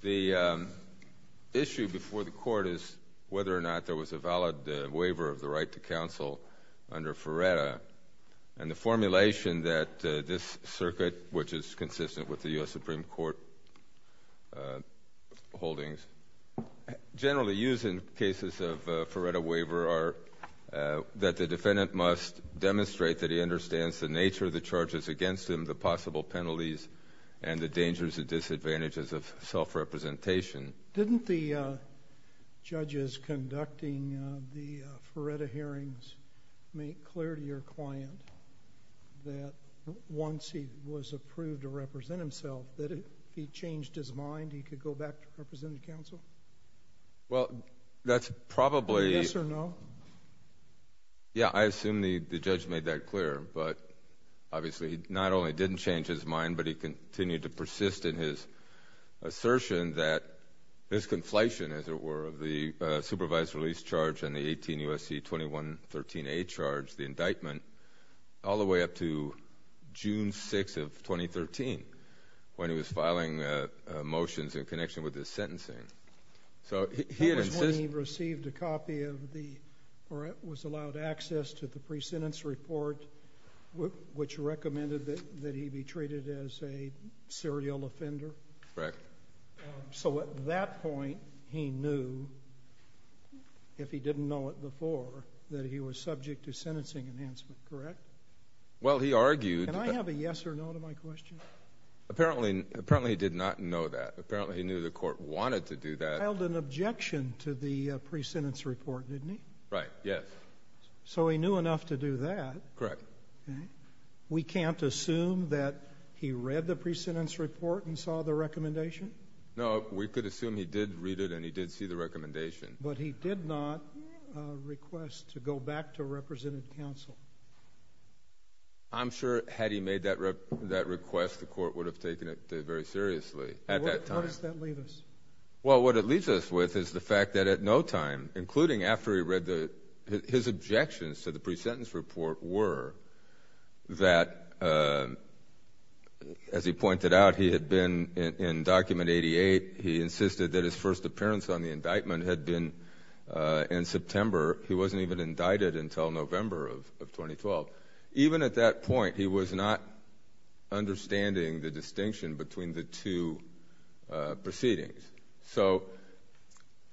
The issue before the Court is whether or not there was a valid waiver of the right to counsel under Ferretta and the formulation that this circuit, which is consistent with the U.S. Ferretta waiver, that the defendant must demonstrate that he understands the nature of the charges against him, the possible penalties, and the dangers and disadvantages of self-representation. Didn't the judges conducting the Ferretta hearings make clear to your client that once he was approved to represent himself, that if he changed his mind, he could go back to representing counsel? Well, that's probably— Yes or no? Yeah, I assume the judge made that clear, but obviously, not only didn't change his mind, but he continued to persist in his assertion that his conflation, as it were, of the supervised release charge and the 18 U.S.C. 2113a charge, the indictment, all the way up to June 6 of 2013, when he was filing motions in connection with his sentencing. So he had insisted— That was when he received a copy of the—or was allowed access to the pre-sentence report which recommended that he be treated as a serial offender? Correct. So at that point, he knew, if he didn't know it before, that he was subject to sentencing enhancement, correct? Well he argued— Did he have a yes or no to my question? Apparently, he did not know that. Apparently, he knew the court wanted to do that. He held an objection to the pre-sentence report, didn't he? Right, yes. So he knew enough to do that. Correct. We can't assume that he read the pre-sentence report and saw the recommendation? No, we could assume he did read it and he did see the recommendation. But he did not request to go back to representative counsel? I'm sure, had he made that request, the court would have taken it very seriously at that time. How does that leave us? Well, what it leaves us with is the fact that at no time, including after he read the—his objections to the pre-sentence report were that, as he pointed out, he had been in Document 88. He insisted that his first appearance on the indictment had been in September. He wasn't even indicted until November of 2012. Even at that point, he was not understanding the distinction between the two proceedings. So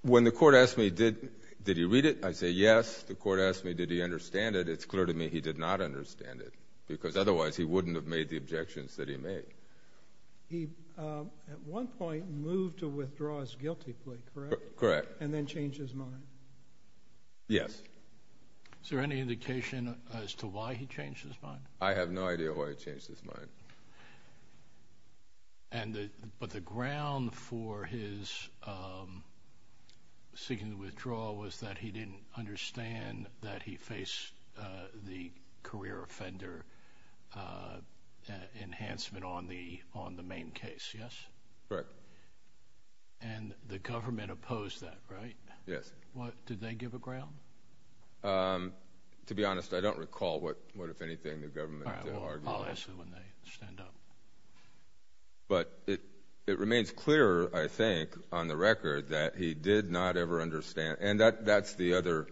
when the court asked me, did he read it, I say, yes. The court asked me, did he understand it, it's clear to me he did not understand it because otherwise he wouldn't have made the objections that he made. He, at one point, moved to withdraw his guilty plea, correct? Correct. And then changed his mind? Yes. Is there any indication as to why he changed his mind? I have no idea why he changed his mind. But the ground for his seeking to withdraw was that he didn't understand that he faced the career offender enhancement on the main case, yes? Correct. And the government opposed that, right? Yes. Did they give a ground? To be honest, I don't recall what, if anything, the government argued. All right, I'll ask you when they stand up. But it remains clear, I think, on the record that he did not ever understand, and that's the other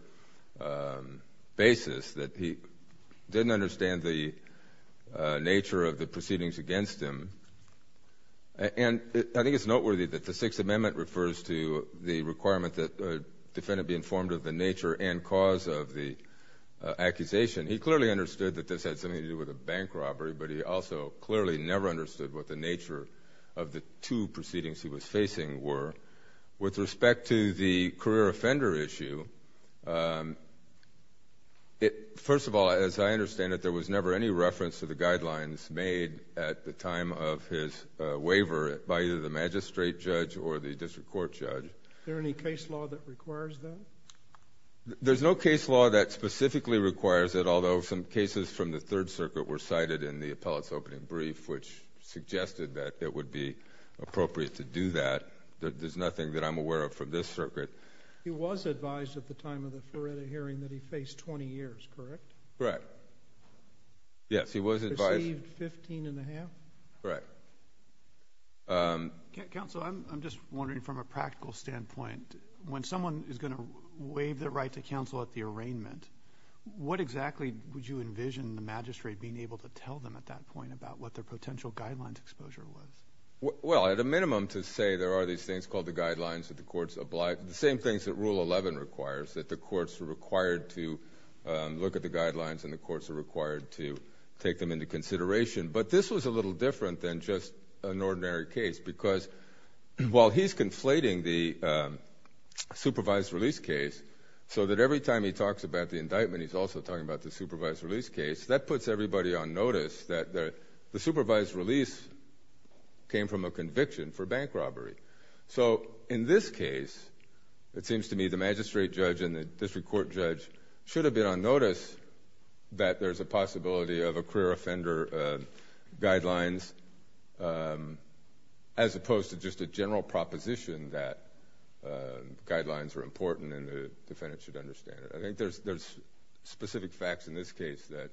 basis, that he didn't understand the nature of the proceedings against him. And I think it's noteworthy that the Sixth Amendment refers to the requirement that a defendant be informed of the nature and cause of the accusation. He clearly understood that this had something to do with a bank robbery, but he also clearly never understood what the nature of the two proceedings he was facing were. With respect to the career offender issue, first of all, as I understand it, there was never any reference to the guidelines made at the time of his waiver by either the magistrate judge or the district court judge. Is there any case law that requires that? There's no case law that specifically requires it, although some cases from the Third Circuit were cited in the appellate's opening brief, which suggested that it would be appropriate to do that. There's nothing that I'm aware of from this circuit. He was advised at the time of the Feretta hearing that he faced 20 years, correct? Correct. Yes, he was advised. Received 15 and a half? Correct. Counsel, I'm just wondering from a practical standpoint, when someone is going to waive their right to counsel at the arraignment, what exactly would you envision the magistrate being able to tell them at that point about what their potential guidelines exposure was? Well, at a minimum to say there are these things called the guidelines that the courts are required to look at the guidelines and the courts are required to take them into consideration. But this was a little different than just an ordinary case because while he's conflating the supervised release case so that every time he talks about the indictment he's also talking about the supervised release case, that puts everybody on notice that the supervised release came from a conviction for bank robbery. So in this case, it seems to me the magistrate judge and the district court judge should have been on notice that there's a possibility of a career offender guidelines as opposed to just a general proposition that guidelines are important and the defendant should understand it. I think there's specific facts in this case that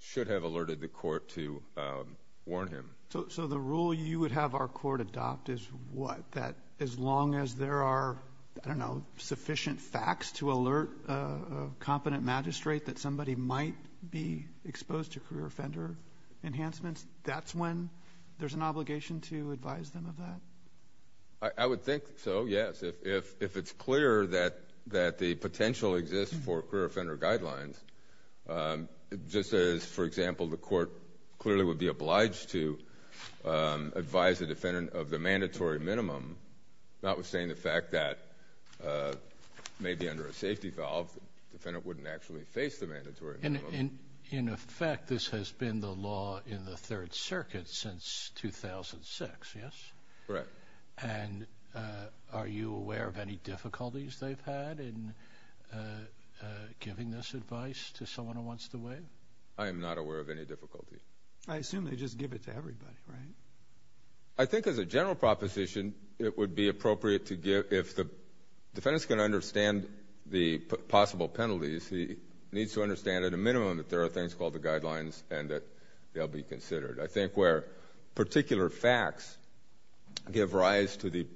should have alerted the court to warn him. So the rule you would have our court adopt is what? That as long as there are, I don't know, sufficient facts to alert a competent magistrate that somebody might be exposed to career offender enhancements, that's when there's an obligation to advise them of that? I would think so, yes. If it's clear that the potential exists for career offender guidelines, just as, for example, the court clearly would be obliged to advise the defendant of the mandatory minimum, not withstanding the fact that maybe under a safety valve the defendant wouldn't actually face the mandatory minimum. In effect, this has been the law in the Third Circuit since 2006, yes? Correct. And are you aware of any difficulties they've had in giving this advice to someone who wants to weigh in? I am not aware of any difficulty. I assume they just give it to everybody, right? I think as a general proposition, it would be appropriate to give, if the defendant's going to understand the possible penalties, he needs to understand at a minimum that there are things called the guidelines and that they'll be considered. I think where particular facts give rise to the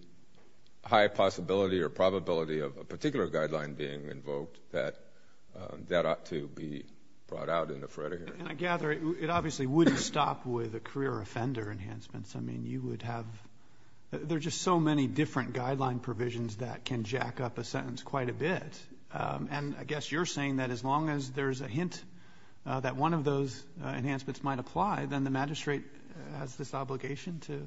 high possibility or probability of a particular guideline being invoked, that ought to be brought out in the Frederick. And I gather it obviously wouldn't stop with the career offender enhancements. I mean, you would have – there are just so many different guideline provisions that can jack up a sentence quite a bit. And I guess you're saying that as long as there's a hint that one of those enhancements might apply, then the magistrate has this obligation to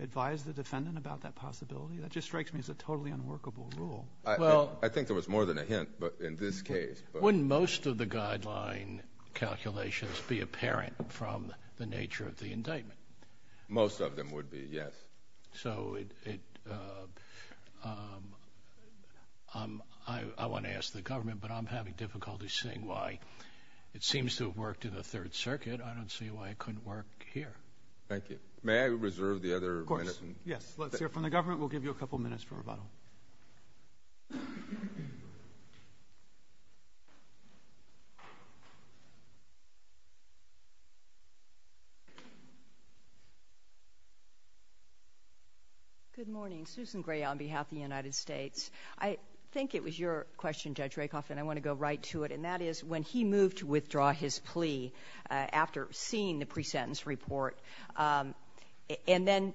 advise the defendant about that possibility? That just strikes me as a totally unworkable rule. Well – I think there was more than a hint in this case. Wouldn't most of the guideline calculations be apparent from the nature of the indictment? Most of them would be, yes. So it – I want to ask the government, but I'm having difficulty seeing why. It seems to have worked in the Third Circuit. I don't see why it couldn't work here. Thank you. May I reserve the other minutes? Of course. Let's hear from the government. We'll give you a couple minutes for rebuttal. Good morning. Susan Gray on behalf of the United States. I think it was your question, Judge Rakoff, and I want to go right to it, and that is when he moved to withdraw his plea after seeing the presentence report, and then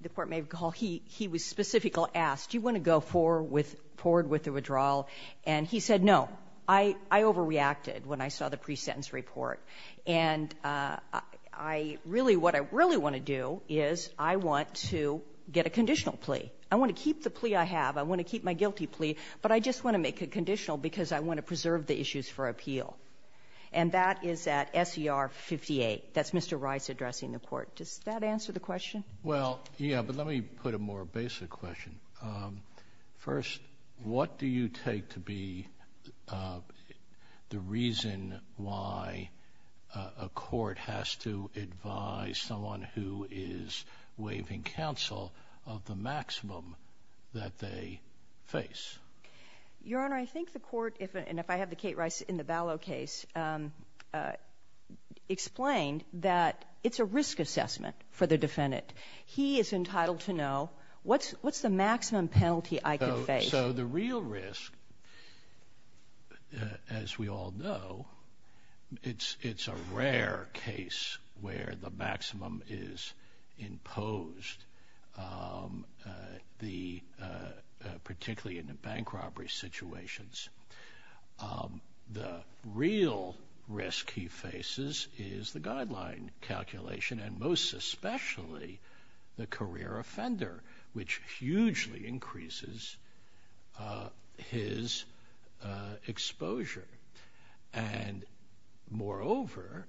the Court may recall he was specifically asked, do you want to go forward with the withdrawal? And he said, no. I overreacted when I saw the presentence report. And I really – what I really want to do is I want to get a conditional plea. I want to keep the plea I have. I want to keep my guilty plea, but I just want to make it conditional because I want to preserve the issues for appeal. That's Mr. Rice addressing the Court. Does that answer the question? Well, yeah, but let me put a more basic question. First, what do you take to be the reason why a court has to advise someone who is waiving counsel of the maximum that they face? Your Honor, I think the Court, and if I have the Kate Rice in the Ballot case, explained that it's a risk assessment for the defendant. He is entitled to know what's the maximum penalty I can face. So the real risk, as we all know, it's a rare case where the maximum is imposed, particularly in the bank robbery situations. The real risk he faces is the guideline calculation, and most especially the career offender, which hugely increases his exposure. And moreover,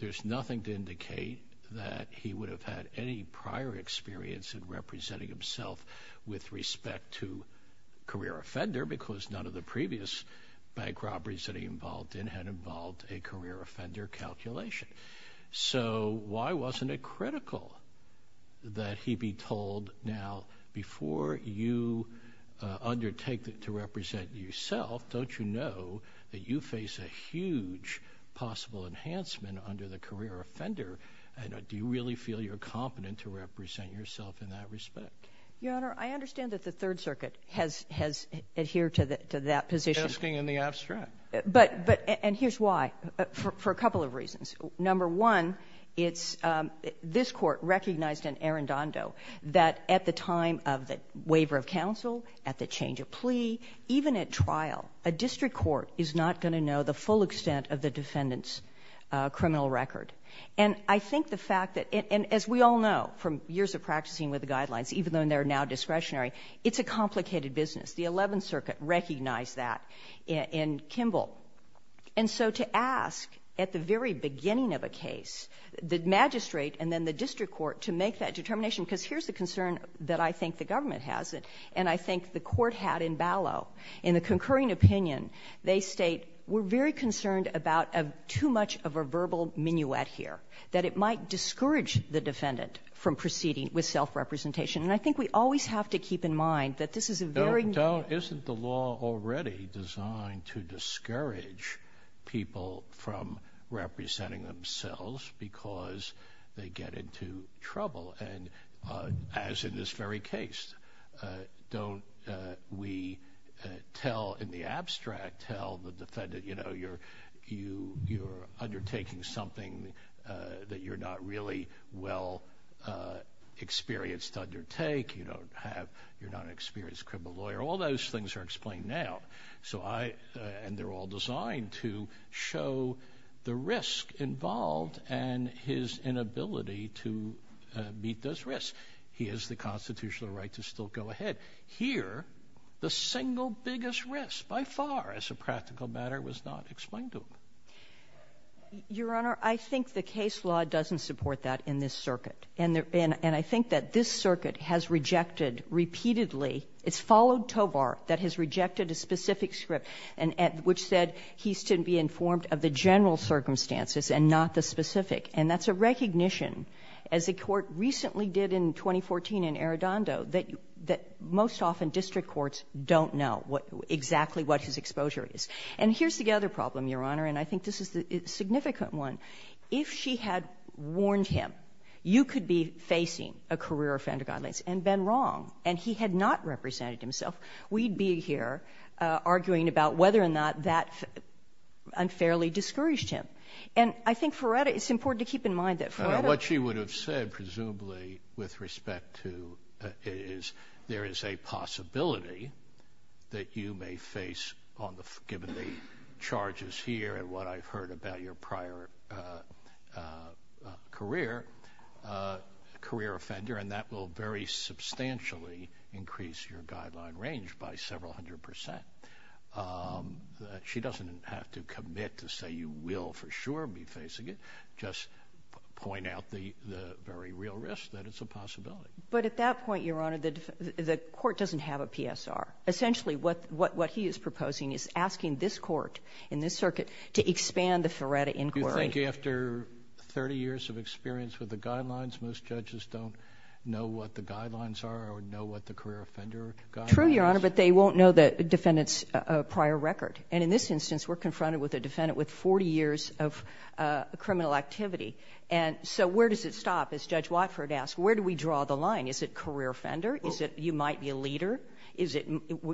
there's nothing to indicate that he would have had any prior experience in representing himself with respect to career offender because none of the previous bank robberies that he involved in had involved a career offender calculation. So why wasn't it critical that he be told, now, before you undertake to represent yourself, don't you know that you face a huge possible enhancement under the career offender, and do you really feel you're competent to represent yourself in that respect? Your Honor, I understand that the Third Circuit has adhered to that position. Asking in the abstract. But here's why, for a couple of reasons. Number one, it's this Court recognized in Arendando that at the time of the waiver of counsel, at the change of plea, even at trial, a district court is not going to know the full extent of the defendant's criminal record. And I think the fact that as we all know from years of practicing with the guidelines, even though they're now discretionary, it's a complicated business. The Eleventh Circuit recognized that in Kimball. And so to ask at the very end, in the concurring opinion, they state, we're very concerned about too much of a verbal minuet here, that it might discourage the defendant from proceeding with self-representation. And I think we always have to keep in mind that this is a very near- Sotomayor, isn't the law already designed to discourage people from representing themselves because they get into trouble? And as in this very case, don't we tell in the abstract, tell the defendant, you know, you're undertaking something that you're not really well experienced to undertake. You don't have, you're not an experienced criminal lawyer. All those things are explained now. So I, and they're all designed to show the risk involved and his inability to meet those risks. He has the constitutional right to still go ahead. Here, the single biggest risk, by far, as a practical matter, was not explained to him. Your Honor, I think the case law doesn't support that in this circuit. And I think that this circuit has rejected repeatedly, it's followed Tovar, that has rejected a specific script, and which said he's to be informed of the general circumstances and not the specific. And that's a recognition, as the Court recently did in 2014 in Arradondo, that most often district courts don't know what exactly what his exposure is. And here's the other problem, Your Honor, and I think this is the significant one. If she had warned him, you could be facing a career offender guidelines, and been wrong, and he had not represented himself, we'd be here arguing about whether or not that unfairly discouraged him. And I think Ferreira, it's important to keep in mind that Ferreira was the one who said that. With respect to, there is a possibility that you may face, given the charges here and what I've heard about your prior career, a career offender, and that will very substantially increase your guideline range by several hundred percent. She doesn't have to commit to say you will, for sure, be facing it. Just point out the very real risk that it's a possibility. But at that point, Your Honor, the court doesn't have a PSR. Essentially what he is proposing is asking this Court in this circuit to expand the Ferreira inquiry. Do you think after 30 years of experience with the guidelines, most judges don't know what the guidelines are or know what the career offender guidelines are? True, Your Honor, but they won't know the defendant's prior record. And in this instance, we're confronted with a defendant with 40 years of criminal activity. And so where does it stop? As Judge Watford asked, where do we draw the line? Is it career offender? Is it you might be a leader? Is it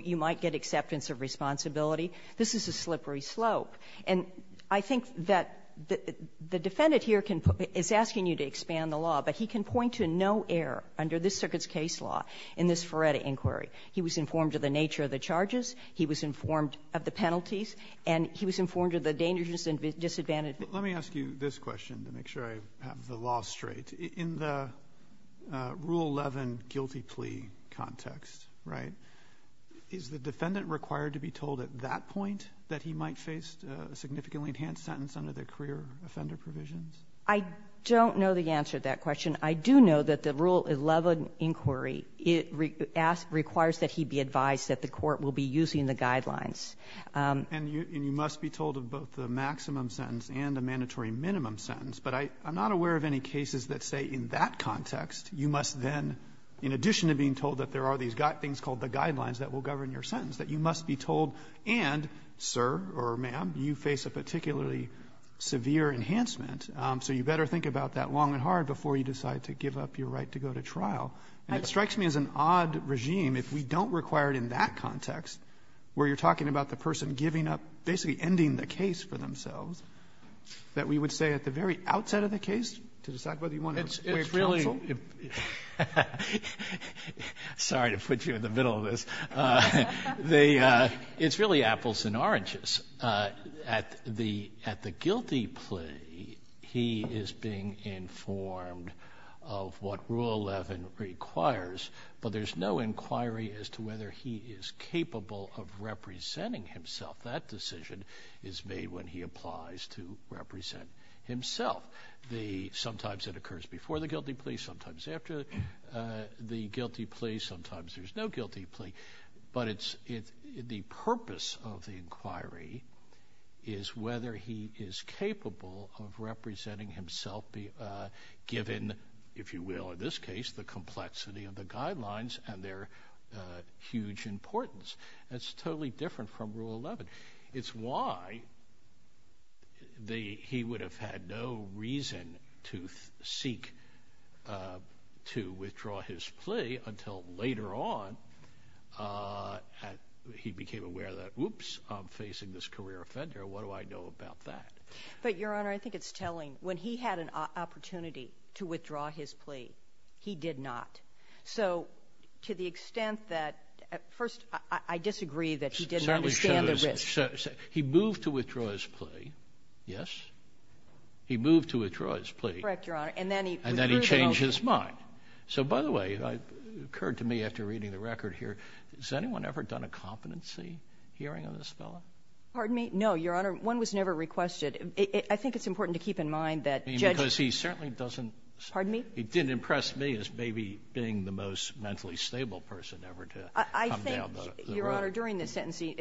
you might get acceptance of responsibility? This is a slippery slope. And I think that the defendant here can put the --"is asking you to expand the law," but he can point to no error under this circuit's case law in this Ferreira inquiry. He was informed of the nature of the charges. He was informed of the penalties. And he was informed of the dangers and disadvantages. But let me ask you this question to make sure I have the law straight. In the Rule 11 guilty plea context, right, is the defendant required to be told at that point that he might face a significantly enhanced sentence under the career offender provisions? I don't know the answer to that question. I do know that the Rule 11 inquiry, it requires that he be advised that the Court will be using the guidelines. And you must be told of both the maximum sentence and a mandatory minimum sentence. But I'm not aware of any cases that say in that context, you must then, in addition to being told that there are these things called the guidelines that will govern your sentence, that you must be told, and, sir or ma'am, you face a particularly severe enhancement, so you better think about that long and hard before you decide to give up your right to go to trial. And it strikes me as an odd regime if we don't require it in that context, where you're talking about the person giving up, basically ending the case for themselves, that we would say at the very outset of the case to decide whether you want to waive counsel. Sotomayor Sorry to put you in the middle of this. It's really apples and oranges. At the guilty plea, he is being informed of what Rule 11 requires that he be advised of what Rule 11 requires, but there's no inquiry as to whether he is capable of representing himself. That decision is made when he applies to represent himself. Sometimes it occurs before the guilty plea, sometimes after the guilty plea, sometimes there's no guilty plea. But the purpose of the inquiry is whether he is capable of representing himself, given, if you will in this case, the complexity of the guidelines and their huge importance. It's totally different from Rule 11. It's why he would have had no reason to seek to withdraw his plea until later on he became aware that, whoops, I'm facing this career offender, what do I know about that? But, Your Honor, I think it's telling. When he had an opportunity to withdraw his plea, he did not. So to the extent that, first, I disagree that he didn't understand the risk. Certainly shows he moved to withdraw his plea. Yes? He moved to withdraw his plea. Correct, Your Honor. And then he withdrew the note. And then he changed his mind. So, by the way, it occurred to me after reading the record here, has anyone ever done a competency hearing of this fellow? Pardon me? No, Your Honor. One was never requested. I think it's important to keep in mind that Judge ---- Because he certainly doesn't ---- Pardon me? He didn't impress me as maybe being the most mentally stable person ever to come down the road. I think, Your Honor, during the sentencing,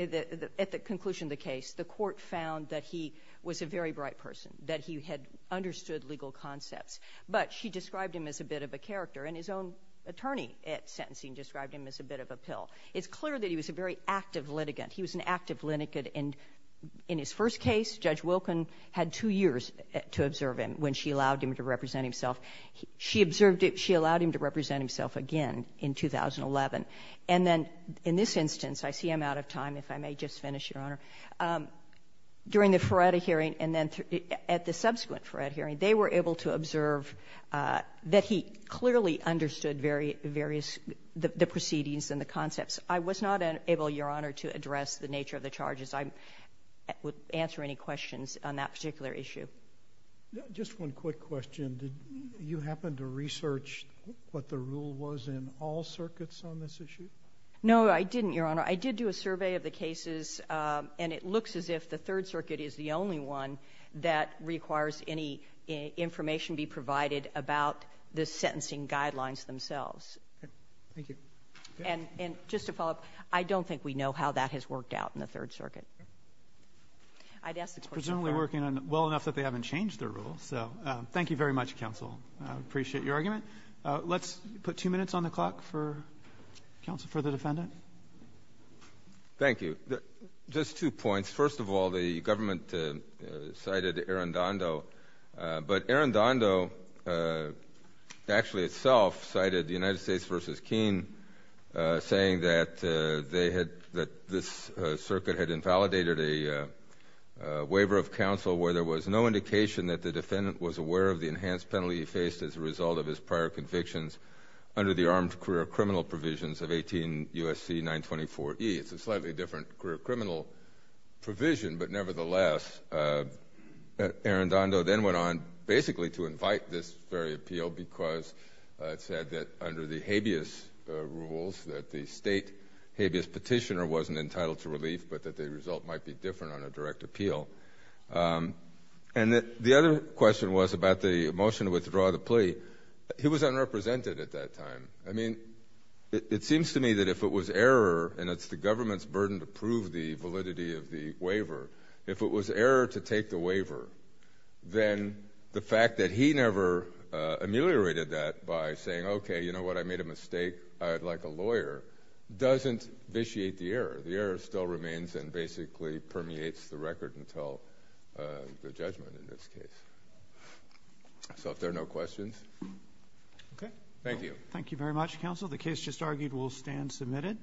at the conclusion of the case, the Court found that he was a very bright person, that he had understood legal concepts. But she described him as a bit of a character, and his own attorney at sentencing described him as a bit of a pill. It's clear that he was a very active litigant. He was an active litigant. And in his first case, Judge Wilken had two years to observe him when she allowed him to represent himself. She observed him ---- she allowed him to represent himself again in 2011. And then in this instance, I see I'm out of time, if I may just finish, Your Honor. During the Ferretta hearing and then at the subsequent Ferretta hearing, they were able to observe that he clearly understood various ---- the proceedings and the concepts. I was not able, Your Honor, to address the nature of the charges. I would answer any questions on that particular issue. Just one quick question. Did you happen to research what the rule was in all circuits on this issue? No, I didn't, Your Honor. I did do a survey of the cases, and it looks as if the Third Circuit is the only one that requires any information be provided about the sentencing guidelines themselves. Thank you. And just to follow up, I don't think we know how that has worked out in the Third Circuit. I'd ask the question of Ferretta. It's presumably working well enough that they haven't changed their rule. So thank you very much, counsel. I appreciate your argument. Let's put two minutes on the clock for counsel, for the defendant. Thank you. Just two points. First of all, the government cited Arundando, but Arundando actually itself cited the United States v. Keene, saying that this circuit had invalidated a waiver of counsel where there was no indication that the defendant was aware of the enhanced penalty he faced as a result of his prior convictions under the armed career criminal provisions of 18 U.S.C. 924E. It's a slightly different career criminal provision, but nevertheless, Arundando then went on basically to invite this very appeal because it said that under the habeas rules, that the state habeas petitioner wasn't entitled to relief, but that the result might be different on a direct appeal. And the other question was about the motion to withdraw the plea. He was unrepresented at that time. I mean, it seems to me that if it was error, and it's the government's burden to prove the validity of the waiver, if it was error to take the waiver, then the fact that he never ameliorated that by saying, okay, you know what, I made a mistake, I would like a lawyer, doesn't vitiate the error. The error still remains and basically permeates the record until the judgment in this case. So if there are no questions. Okay. Thank you. Thank you very much, counsel. The case just argued will stand submitted.